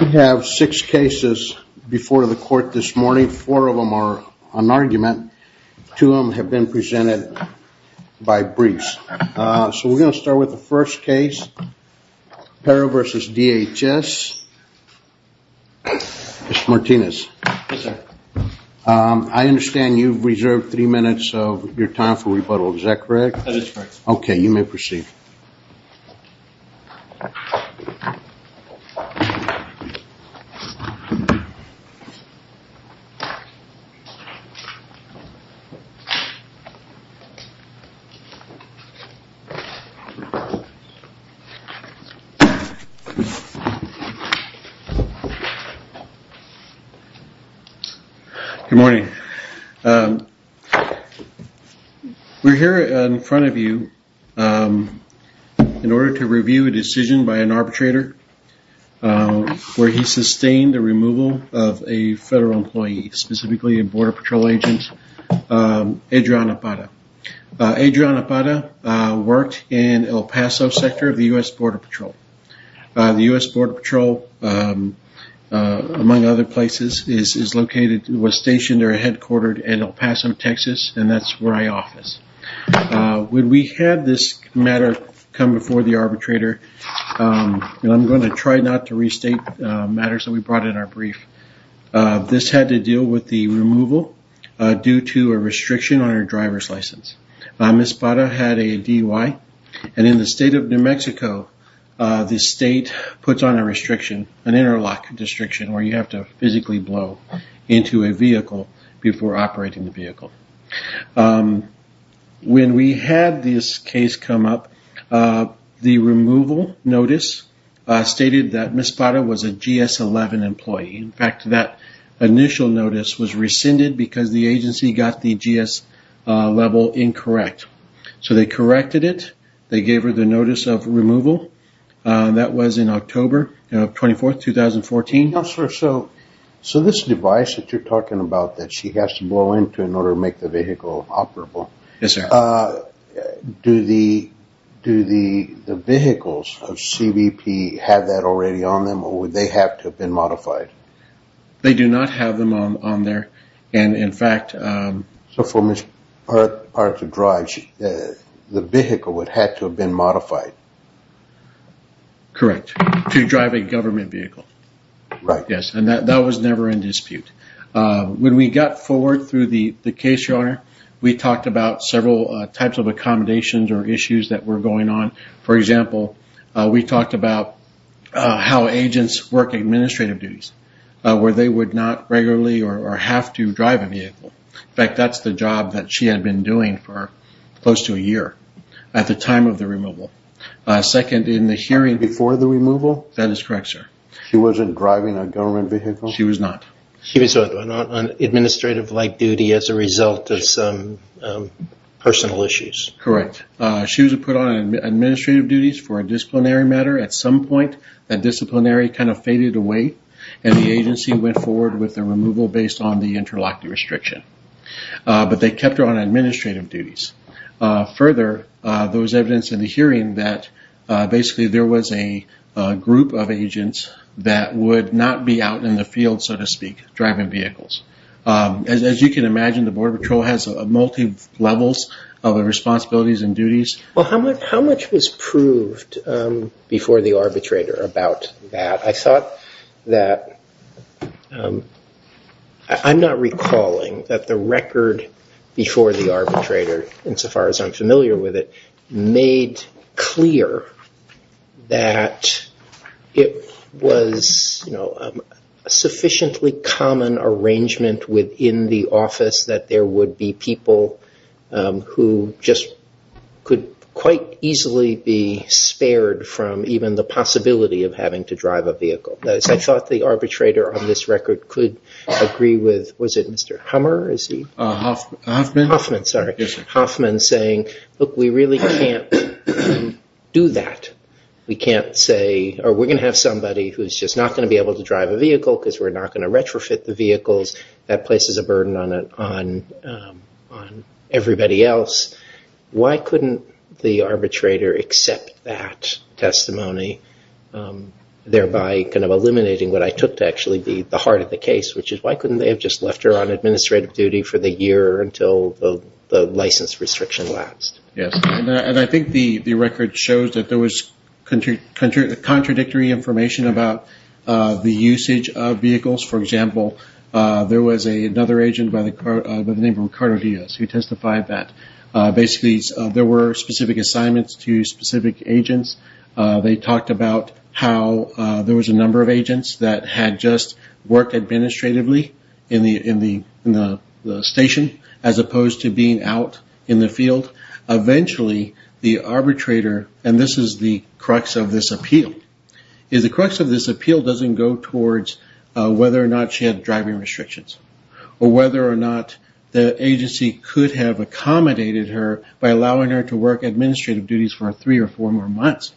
We have six cases before the court this morning, four of them are an argument, two of them have been presented by briefs. So we're going to start with the first case, Parra v. DHS. Mr. Martinez, I understand you've reserved three minutes of your time for rebuttal, is that correct? Yes, Your Honor, I do appreciate it. Good morning. We're here in front of you in order to review a decision by an arbitrator where he sustained the removal of a federal employee, specifically a Border Patrol agent, Adrian Apata. Adrian Apata worked in El Paso sector of the U.S. Border Patrol. The U.S. Border Patrol, among other places, was stationed or headquartered in El Paso, Texas, and that's where I office. When we had this matter come before the arbitrator, and I'm going to try not to restate matters that we brought in our brief, this had to deal with the removal due to a restriction on your driver's license. Ms. Parra had a DUI, and in the state of New Mexico, the state puts on a restriction, an interlock restriction, where you have to physically blow into a vehicle before operating the vehicle. When we had this case come up, the removal notice stated that Ms. Parra was a GS-11 employee. In fact, that initial notice was rescinded because the agency got the GS level incorrect. So they corrected it. They gave her the notice of removal. That was in October 24, 2014. Counselor, so this device that you're talking about that she has to blow into in order to make the vehicle operable, do the vehicles of CBP have that already on them, or would they have to have been modified? They do not have them on there, and in fact... So for Ms. Parra to drive, the vehicle would have to have been modified. Correct, to drive a government vehicle. Right. Yes, and that was never in dispute. When we got forward through the case, Your Honor, we talked about several types of accommodations or issues that were going on. For example, we talked about how agents work administrative duties, where they would not regularly or have to drive a vehicle. In fact, that's the job that she had been doing for close to a year at the time of the removal. Second, in the hearing... Before the removal? That is correct, sir. She wasn't driving a government vehicle? She was not. She was on administrative-like duty as a result of some personal issues. Correct. She was put on administrative duties for a disciplinary matter. At some point, that disciplinary kind of faded away, and the agency went forward with the removal based on the interlockee restriction, but they kept her on administrative duties. Further, there was evidence in the hearing that basically there was a group of agents that would not be out in the field, so to speak, driving vehicles. As you can imagine, the Border Patrol has multi-levels of responsibilities and that... I'm not recalling that the record before the arbitrator, insofar as I'm familiar with it, made clear that it was a sufficiently common arrangement within the office that there would be people who just could quite easily be spared from even the possibility of having to drive a vehicle. I thought the arbitrator on this record could agree with... Was it Mr. Hummer? Hoffman? Hoffman, sorry. Hoffman saying, look, we really can't do that. We can't say... Or we're going to have somebody who's just not going to be able to drive a vehicle because we're not going to retrofit the vehicles. That places a burden on everybody else. Why couldn't the arbitrator accept that testimony, thereby eliminating what I took to actually be the heart of the case, which is why couldn't they have just left her on administrative duty for the year until the license restriction lapsed? Yes. I think the record shows that there was contradictory information about the usage of vehicles. For example, there was another agent by the name of Ricardo Diaz who testified that basically there were specific assignments to specific agents. They talked about how there was a number of agents that had just worked administratively in the station as opposed to being out in the field. Eventually, the arbitrator... And this is the crux of this appeal. The crux of this appeal doesn't go towards whether or not she had driving restrictions or whether or not the agency could have accommodated her by allowing her to work administrative duties for three or four more months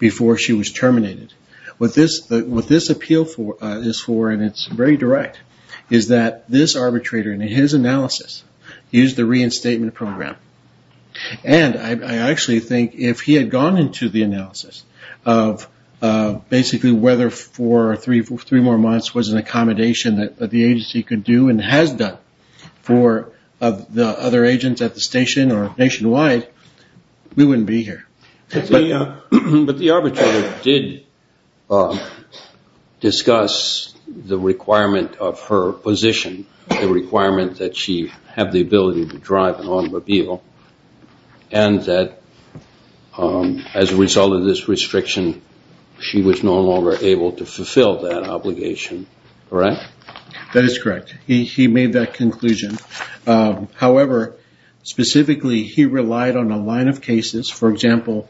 before she was terminated. What this appeal is for, and it's very direct, is that this arbitrator, in his analysis, used the reinstatement program. I actually think if he had gone into the analysis of basically whether four or three more months was an accommodation that the agency could do and has done for the other agents at the station or nationwide, we wouldn't be here. But the arbitrator did discuss the requirement of her position, the requirement that she have the ability to drive an automobile, and that as a result of this restriction, she was no longer able to fulfill that obligation. Correct? That is correct. He made that conclusion. However, specifically, he relied on a line of cases. For example,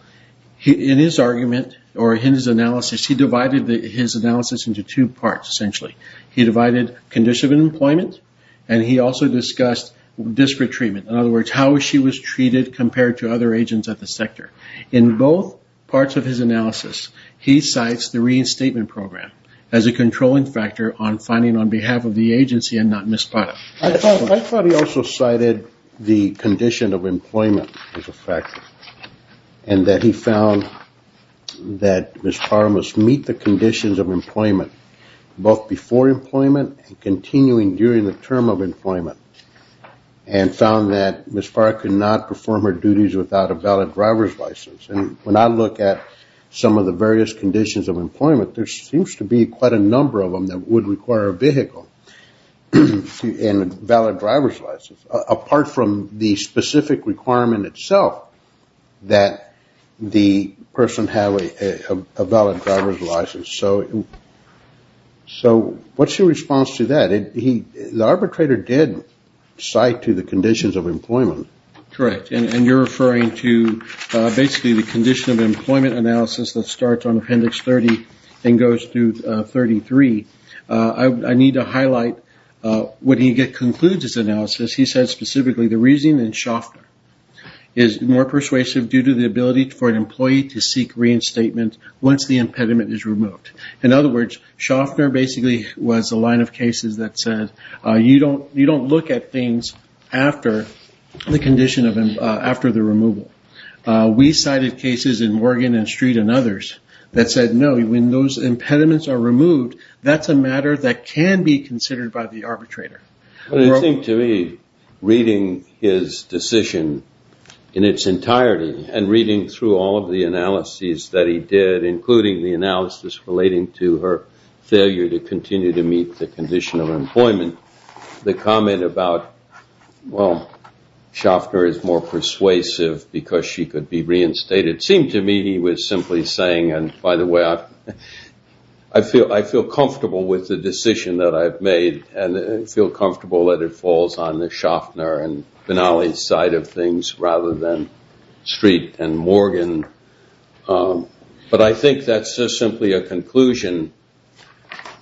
in his argument or in his analysis, he divided his analysis into two parts, essentially. He divided condition of employment and he also discussed district treatment. In other words, how she was treated compared to other agents at the sector. In both parts of his analysis, he cites the reinstatement program as a controlling factor on finding on behalf of the agency and not Ms. Potter. I thought he also cited the condition of employment as a factor and that he found that Ms. Potter must meet the conditions of employment both before employment and continuing during the term of employment and found that Ms. Potter could not perform her duties without a valid driver's license. When I look at some of the various conditions of employment, there seems to be quite a number of them that would require a vehicle and a valid driver's license, apart from the specific driver's license. What is your response to that? The arbitrator did cite to the conditions of employment. Correct. You are referring to basically the condition of employment analysis that starts on Appendix 30 and goes through 33. I need to highlight what he concludes in his analysis. He says specifically, the reasoning in Shoffner is more persuasive due to the ability for an employee to seek reinstatement once the impediment is removed. In other words, Shoffner basically was a line of cases that said, you don't look at things after the condition of, after the removal. We cited cases in Morgan and Street and others that said no, when those impediments are removed, that's a matter that can be considered by the arbitrator. I think to me, reading his decision in its entirety and reading through all of the analyses that he did, including the analysis relating to her failure to continue to meet the condition of employment, the comment about, well, Shoffner is more persuasive because she could be reinstated, seemed to me he was simply saying, by the way, I feel comfortable with the decision that I've made and feel comfortable that it falls on the Shoffner and Finale's side of things rather than Street and Morgan. But I think that's just simply a conclusion,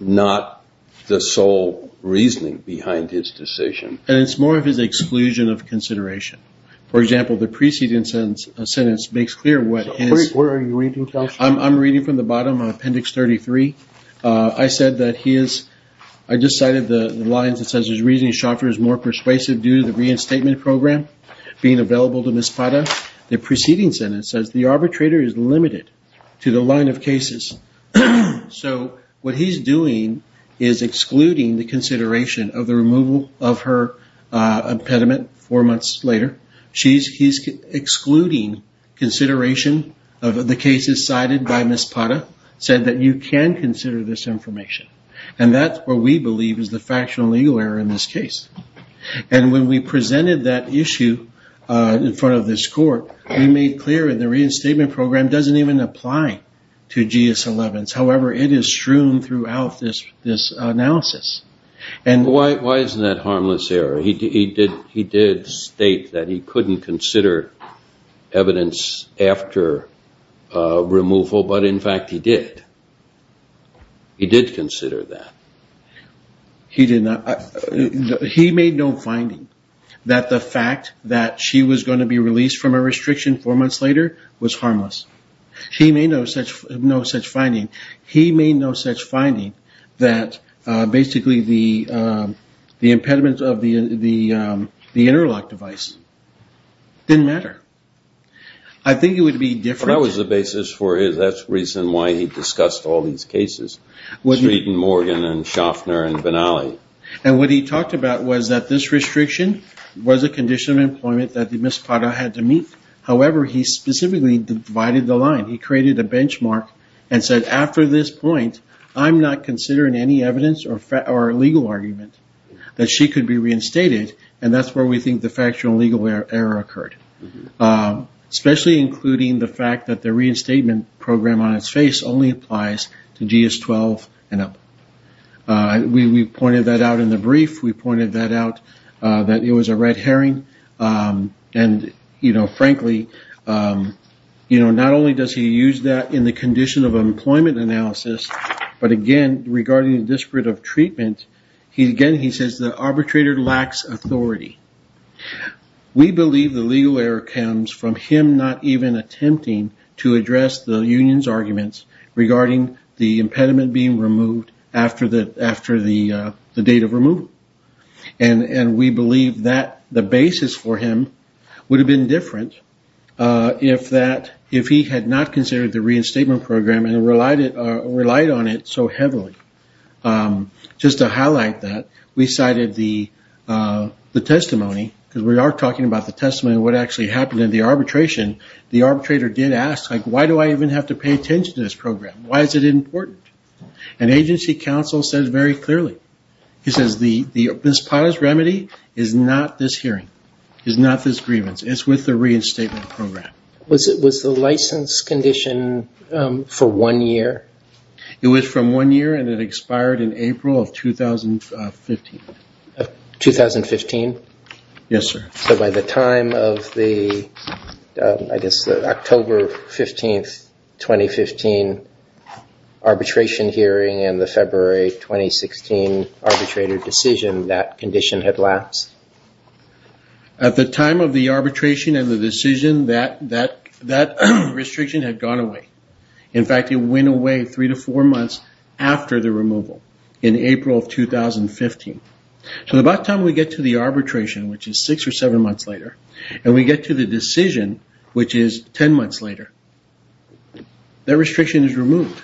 not the sole reasoning behind his decision. And it's more of his exclusion of consideration. For example, the preceding sentence makes clear what is... Where are you reading from? I'm reading from the bottom of appendix 33. I said that he is, I just cited the lines that says his reasoning, Shoffner is more persuasive due to the reinstatement program being available to Ms. Pata. The preceding sentence says the arbitrator is limited to the line of cases. So what he's doing is excluding the consideration of the removal of her impediment four months later. He's excluding consideration of the cases cited by Ms. Pata, said that you can consider this information. And that's what we believe is the factional legal error in this case. And when we presented that issue in front of this court, we made clear in the reinstatement program doesn't even apply to GS 11s. However, it is strewn throughout this analysis. Why isn't that harmless error? He did state that he couldn't consider evidence after removal, but in fact, he did. He did consider that. He made no finding that the fact that she was going to be released from a restriction four months later was harmless. He made no such finding. He made no such finding that basically the impediment of the interlock device didn't matter. I think it would be different. But that was the basis for it. That's the reason why he discussed all these cases. Street and Morgan and Schaffner and Benally. And what he talked about was that this restriction was a condition of employment that Ms. Pata had to meet. However, he specifically divided the line. He created a benchmark and said, after this point, I'm not considering any evidence or legal argument that she could be reinstated. And that's where we think the factual legal error occurred. Especially including the fact that the reinstatement program on its face only applies to GS 12 and up. We pointed that out in the brief. We pointed that out that it was a red herring. And frankly, not only does he use that in the condition of employment analysis, but again, regarding the disparate of treatment, he says the arbitrator lacks authority. We believe the legal error comes from him not even attempting to address the union's arguments regarding the impediment being removed after the date of removal. And we believe that the different if he had not considered the reinstatement program and relied on it so heavily. Just to highlight that, we cited the testimony, because we are talking about the testimony of what actually happened in the arbitration. The arbitrator did ask, why do I even have to pay attention to this program? Why is it important? And agency counsel says very clearly. He says the misconduct remedy is not this hearing. It's not this grievance. It's with the reinstatement program. Was the license condition for one year? It was from one year and it expired in April of 2015. 2015? Yes, sir. So by the time of the October 15, 2015 arbitration hearing and the February 2016 arbitrator decision, that condition had lapsed? At the time of the arbitration and the decision, that restriction had gone away. In fact, it went away three to four months after the removal in April of 2015. So by the time we get to the arbitration, which is six or seven months later, and we get to the decision, which is 10 months later, that restriction is removed.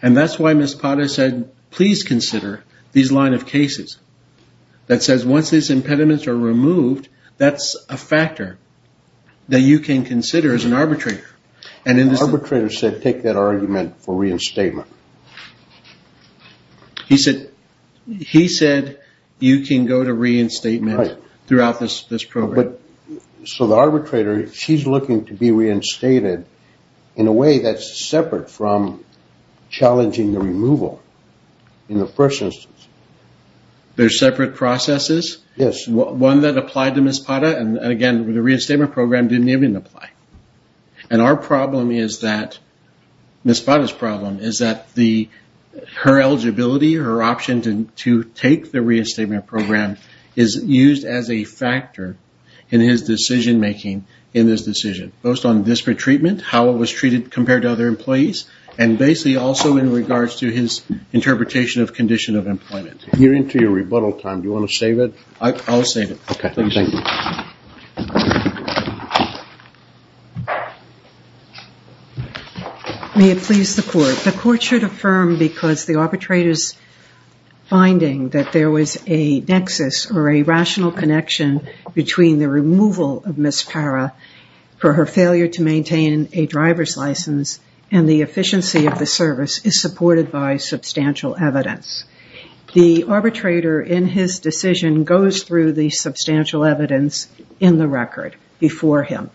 And that's why Ms. Potter said, please consider these line of cases. That says once these impediments are removed, that's a factor that you can consider as an arbitrator. Arbitrator said, take that argument for reinstatement. He said, you can go to reinstatement throughout this program. So the arbitrator, she's looking to be reinstated in a way that's separate from challenging the removal in the first instance. There's separate processes? Yes. One that applied to Ms. Potter, and again, the reinstatement program didn't even apply. And our problem is that, Ms. Potter's problem is that her eligibility, her option to take the reinstatement program is used as a factor in his decision-making in this decision. Most on disparate treatment, how it was treated compared to other employees, and basically also in regards to his interpretation of condition of employment. You're into your rebuttal time. Do you want to read? I'll save it. May it please the court. The court should affirm because the arbitrator's finding that there was a nexus or a rational connection between the removal of Ms. Parra for her failure to maintain a driver's license and the efficiency of the service is supported by substantial evidence. The arbitrator in his decision goes through the substantial evidence in the record before him.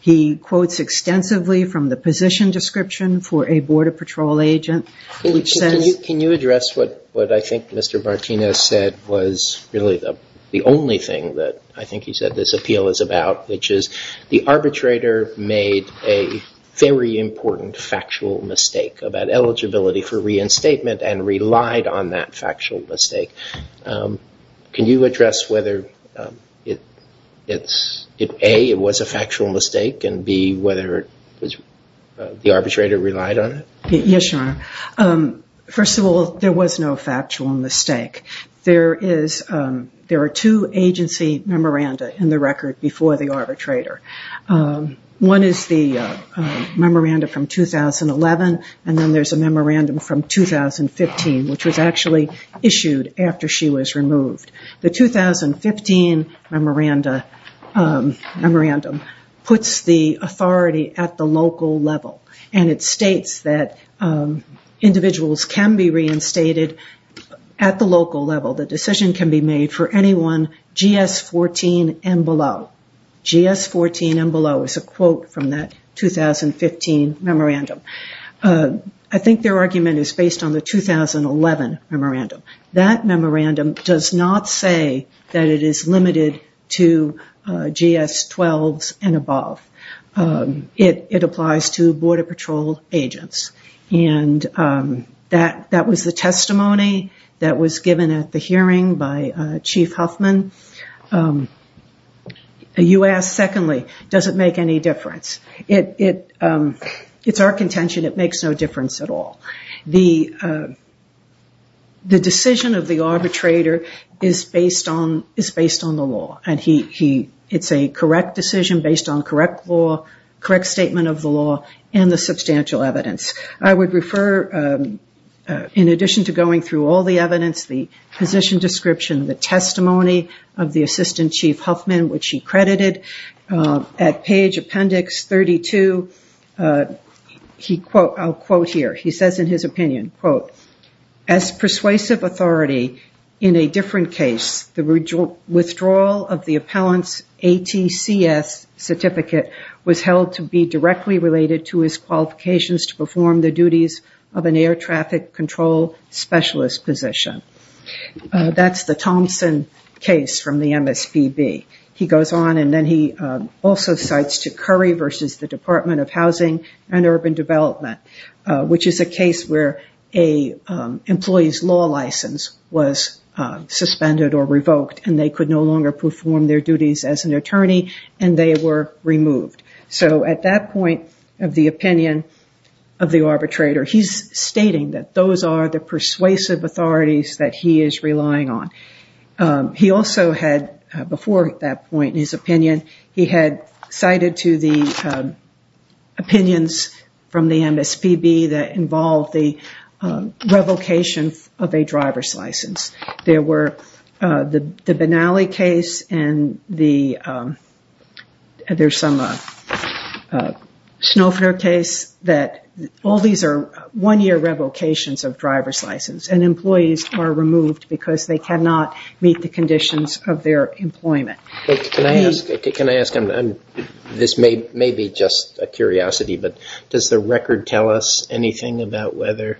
He quotes extensively from the position description for a border patrol agent. Can you address what I think Mr. Martinez said was really the only thing that I think he said this appeal is about, which is the arbitrator made a very important factual mistake about eligibility for reinstatement and relied on that factual mistake. Can you address whether it's A, it was a factual mistake, and B, whether the arbitrator relied on it? Yes, Your Honor. First of all, there was no factual mistake. There are two agency memoranda in the record before the arbitrator. One is the memoranda from 2011, and then there's a memoranda from 2015, which was actually issued after she was removed. The 2015 memoranda puts the authority at the local level, and it states that individuals can be reinstated at the local level. The decision can be made for anyone GS-14 and below. GS-14 and below is a quote from that 2015 memorandum. I think their argument is based on the 2011 memorandum. That memorandum does not say that it is limited to GS-12s and above. It applies to border patrol agents. That was the testimony that was given at the hearing by Chief Huffman. You asked, secondly, does it make any difference? It's our contention it makes no difference at all. The decision of the arbitrator is based on the law. It's a correct decision based on correct law, correct statement of the law, and the substantial evidence. I would refer, in addition to going through all the evidence, the position description, the testimony of the Assistant Chief Huffman, which he credited at page appendix 32. I'll quote here. He says in his opinion, quote, as persuasive authority in a different case, the withdrawal of the appellant's ATCS certificate was held to be directly related to his qualifications to perform the duties of an air traffic control specialist position. That's the Thompson case from the MSPB. He goes on and then he also cites Curry versus the Department of Housing and Urban Development, which is a case where an employee's law license was suspended or revoked and they could no longer perform their duties as an attorney and they were removed. So at that point of the opinion of the arbitrator, he's stating that those are the persuasive authorities that he is relying on. He also had, before that point in his opinion, he had cited to the opinions from the MSPB that involved the revocation of a driver's license. There's some Schnaufer case that all these are one-year revocations of driver's license and employees are removed because they cannot meet the conditions of their employment. Can I ask, this may be just a curiosity, but does the record tell us anything about whether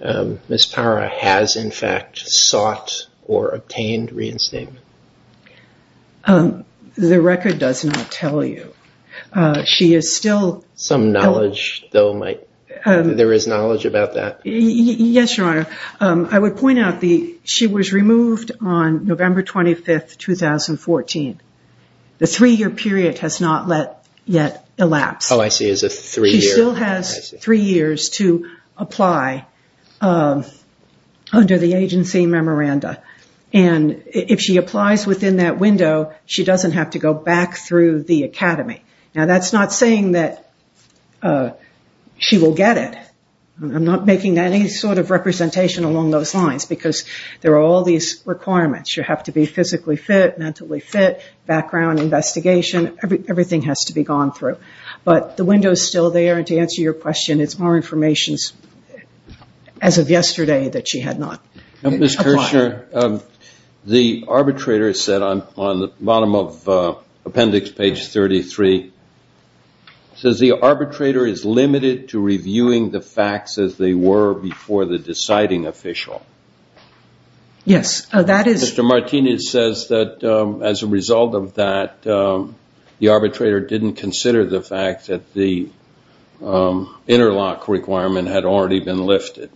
Ms. Parra has in fact sought or obtained reinstatement? The record does not tell you. She is still- Some knowledge though, there is knowledge about that? Yes, Your Honor. I would point out that she was removed on November 25th, 2014. The three-year period has not yet elapsed. Oh, I see. It's a three-year. She still has three years to apply under the agency memoranda. If she applies within that window, she doesn't have to go back through the academy. Now, that's not saying that she will get it. I'm not making any sort of representation along those lines because there are all these requirements. You have to be physically fit, mentally fit, background investigation. Everything has to be gone through. The window is still there. To answer your question, it's more information as of yesterday that she had not applied. Ms. Kirschner, the arbitrator said on the bottom of appendix page 33, says the arbitrator is limited to reviewing the facts as they were before the deciding official. Yes, that is- The arbitrator didn't consider the fact that the interlock requirement had already been lifted.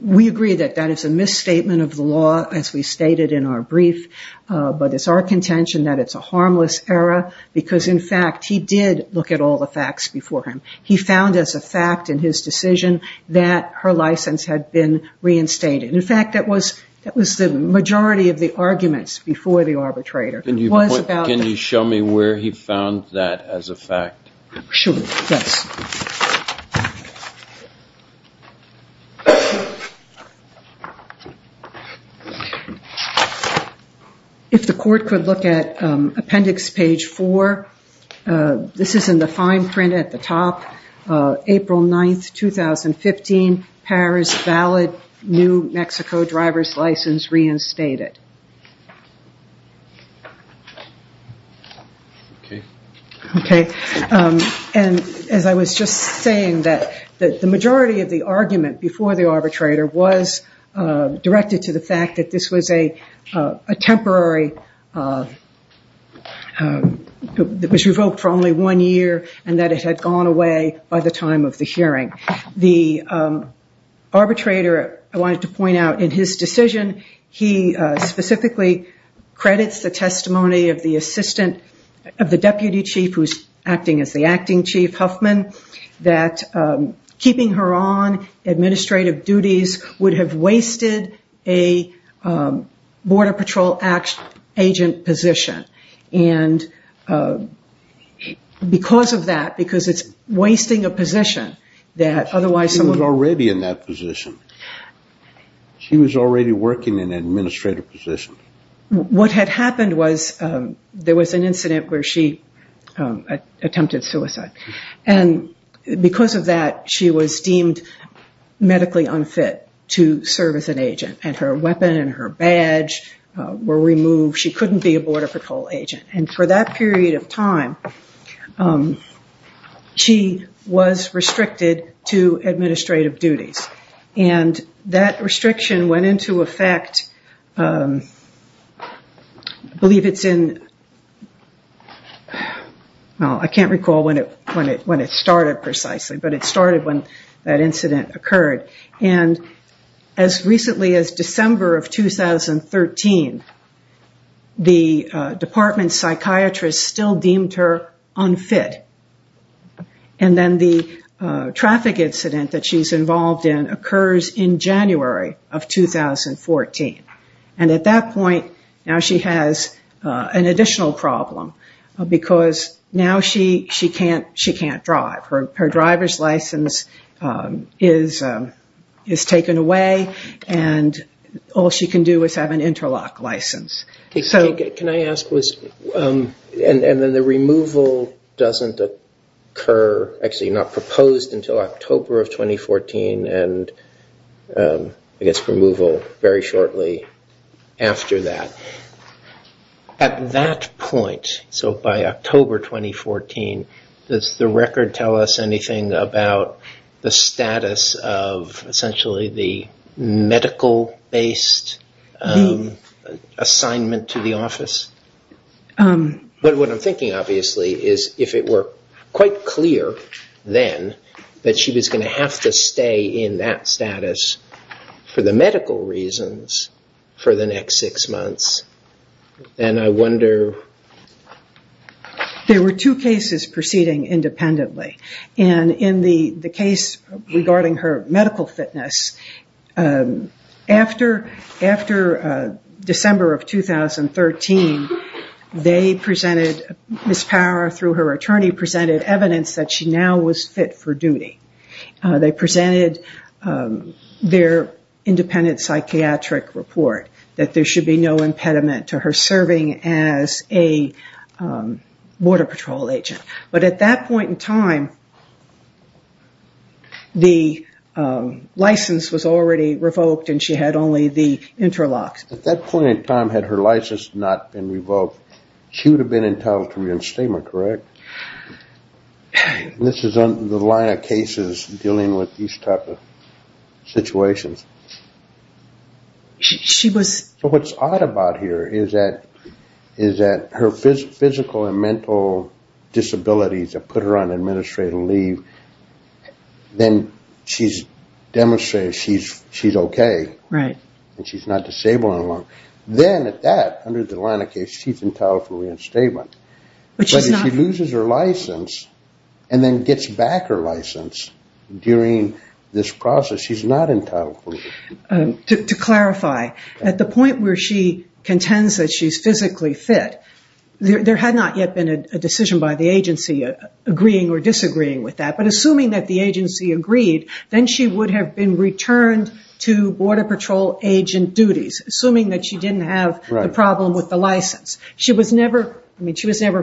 We agree that that is a misstatement of the law as we stated in our brief, but it's our contention that it's a harmless error because, in fact, he did look at all the facts before him. He found as a fact in his decision that her license had been reinstated. In fact, that was the majority of the arguments before the arbitrator. Can you show me where he found that as a fact? Sure, yes. If the court could look at appendix page 4. This is in the fine print at the top. April 9th, 2015. Paris valid. New Mexico driver's license reinstated. As I was just saying, the majority of the argument before the arbitrator was directed to the fact that this was a temporary- by the time of the hearing. The arbitrator, I wanted to point out, in his decision, he specifically credits the testimony of the deputy chief who's acting as the acting chief, Huffman, that keeping her on administrative duties would have wasted a Border Patrol agent position. Because of that, because it's wasting a position that otherwise- She was already in that position. She was already working in an administrative position. What had happened was there was an incident where she attempted suicide. Because of that, she was deemed medically unfit to serve as an agent. Her weapon and her badge were removed. She couldn't be a Border Patrol agent. For that period of time, she was restricted to administrative duties. That restriction went into effect, I believe it's in- I can't recall when it started precisely, but it started when that incident occurred. As recently as December of 2013, the department psychiatrist still deemed her unfit. Then the traffic incident that she's in. At that point, now she has an additional problem because now she can't drive. Her driver's license is taken away, and all she can do is have an interlock license. Can I ask, and then the removal doesn't occur, actually not proposed until October of 2014, and I guess removal very shortly after that. At that point, so by October 2014, does the record tell us anything about the status of essentially the medical-based assignment to the office? What I'm thinking obviously is if it were quite clear then that she was going to have to stay in that status for the medical reasons for the next six months, and I wonder- There were two cases proceeding independently. In the case regarding her medical fitness, after December of 2013, they presented, Ms. Power through her attorney presented evidence that she now was fit for duty. They presented their independent psychiatric report that there should be no impediment to her serving as a border patrol agent. But at that point in time, the license was already revoked and she had only the interlocks. At that point in time, had her license not been revoked, she would have been entitled to reinstatement, correct? This is on the line of cases dealing with these type of situations. She was- What's odd about here is that her physical and mental disabilities that put her on administrative leave, then she's demonstrated she's okay and she's not disabled any longer. Then at that, under the line of case, she's entitled for reinstatement. But if she loses her license and then gets back her license during this process, she's not entitled for- To clarify, at the point where she contends that she's physically fit, there had not yet been a decision by the agency agreeing or disagreeing with that. But assuming that the agency agreed, then she would have been returned to border patrol agent duties, assuming that she didn't have a problem with the license. She was never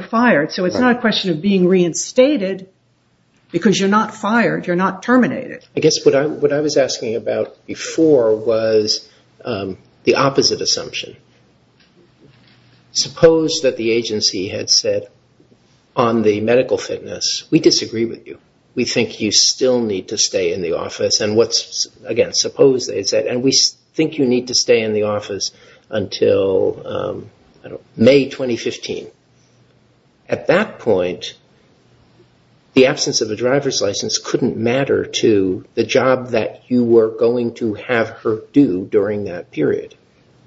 fired, so it's not a question of being reinstated because you're not fired, you're not terminated. I guess what I was asking about before was the opposite assumption. Suppose that the agency had said, on the medical fitness, we disagree with you. We think you still need to stay in the office. Again, suppose they said, and we think you need to stay in the office until May 2015. At that point, the absence of a driver's license couldn't matter to the job that you were going to have her do during that period.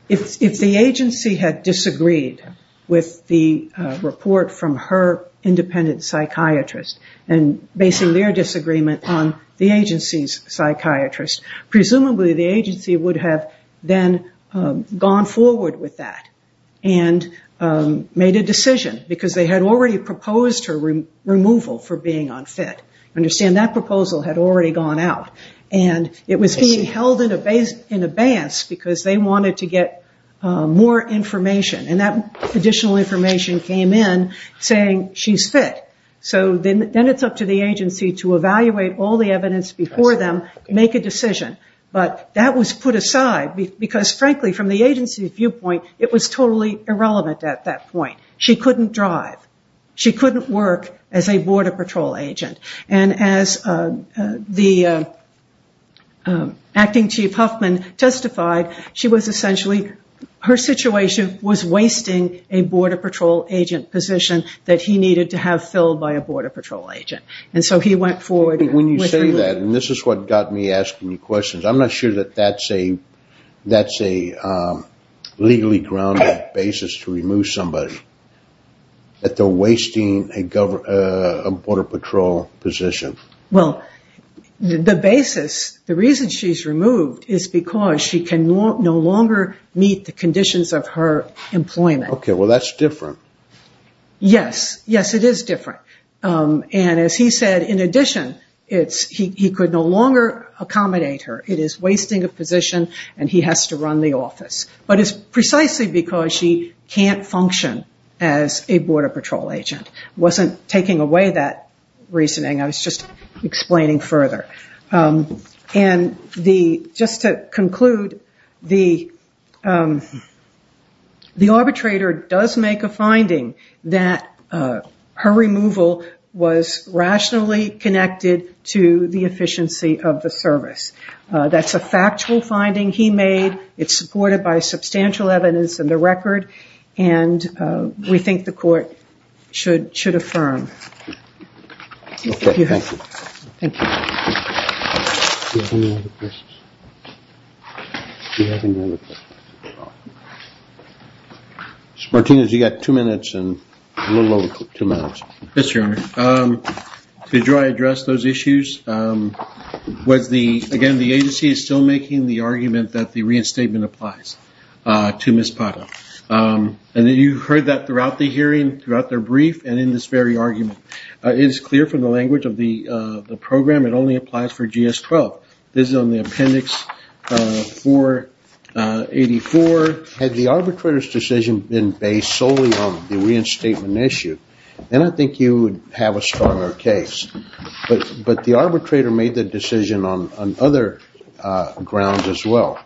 If the agency had disagreed with the report from her independent psychiatrist and based their disagreement on the agency's psychiatrist, presumably the agency would have then gone forward with that and made a decision because they had already proposed her removal for being unfit. Understand that proposal had already gone out, and it was being held in abeyance because they wanted to get more information, and that additional information came in saying she's fit. Then it's up to the agency to evaluate all the evidence before them, make a decision. That was put aside because, frankly, from the agency's viewpoint, it was totally irrelevant at that point. She couldn't drive. She couldn't work as a border patrol agent. As the acting chief Huffman testified, her situation was wasting a border patrol agent position that he needed to have filled by a border patrol agent. When you say that, and this is what got me asking you questions, I'm not sure that that's a legally grounded basis to remove somebody, that they're wasting a border patrol position. Well, the basis, the reason she's removed is because she can no longer meet the conditions of her employment. Okay. Well, that's different. Yes. Yes, it is different. As he said, in addition, he could no longer accommodate her. It is wasting a position, and he has to run the office, but it's precisely because she can't function as a border patrol agent. I wasn't taking away that reasoning. I was just explaining further. Just to conclude, the arbitrator does make a finding that her removal was rationally connected to the efficiency of the service. That's a factual finding he made. It's supported by substantial evidence in the record, and we think the court should affirm. Okay. Thank you. Thank you. Mr. Martinez, you got two minutes and a little over two minutes. Yes, Your Honor. Did Roy address those issues? Again, the agency is still making the argument that the reinstatement applies to Ms. Pata. You heard that throughout the hearing, throughout their brief, and in this very argument. It is clear from the language of the program it only applies for GS-12. This is on the appendix 484. Had the arbitrator's decision been based solely on the reinstatement issue, then I think you would have a stronger case. But the arbitrator made the decision on other grounds as well.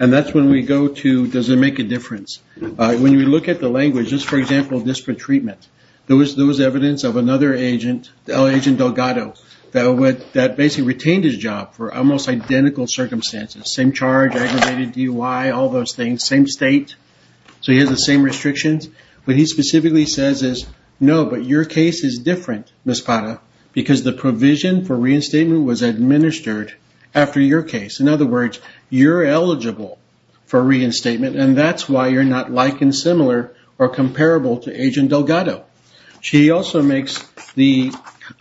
And that's when we go to, does it make a difference? When you look at the language, for example, disparate treatment, there was evidence of another agent, Agent Delgado, that basically retained his job for almost identical circumstances. Same charge, aggravated DUI, all those things, same state, so he has the same restrictions. What he specifically says is, no, but your case is different, Ms. Pata, because the provision for reinstatement was administered after your case. In other words, you're eligible for reinstatement, and that's why you're not like and similar or comparable to Agent Delgado. He also makes the,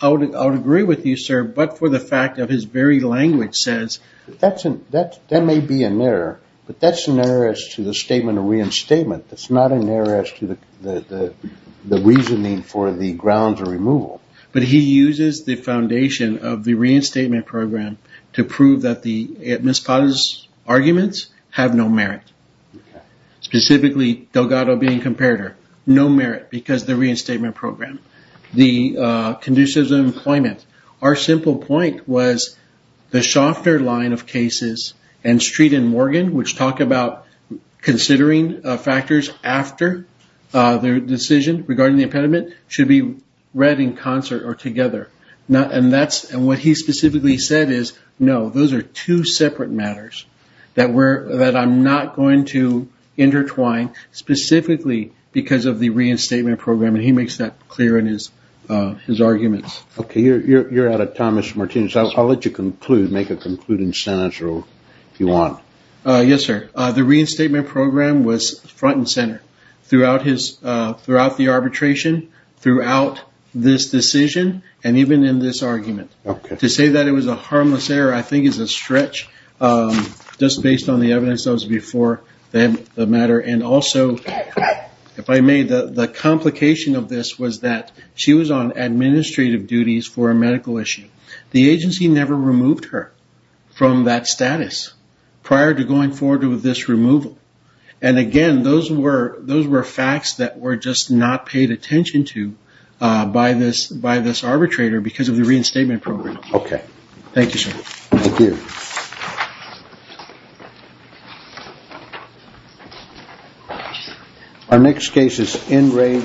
I would agree with you, sir, but for the fact of his very language says, that may be an error, but that's an error as to the statement of reinstatement. That's not an error as to the reasoning for the grounds of removal. But he uses the foundation of the reinstatement program to prove that Ms. Pata's arguments have no merit. Specifically, Delgado being comparator, no merit because of the reinstatement program. The conditions of employment, our simple point was the Schaffner line of cases and Street and Morgan, which talk about considering factors after their decision regarding the impediment, should be read in concert or together. What he specifically said is, no, those are two separate matters that I'm not going to intertwine specifically because of the reinstatement program, and he makes that clear in his arguments. Okay, you're out of time, Mr. Martinez. I'll let you conclude, make a concluding sentence if you want. Yes, sir. The reinstatement program was front and center throughout the arbitration, throughout this decision, and even in this argument. To say that it was a harmless error, I think is a stretch, just based on the evidence that was before the matter. Also, if I may, the complication of this was that she was on administrative duties for a medical issue. The agency never removed her from that status prior to going forward with this removal. Again, those were facts that were just not paid attention to by this arbitrator because of the reinstatement program. Okay. Thank you, sir. Our next case is N. Ray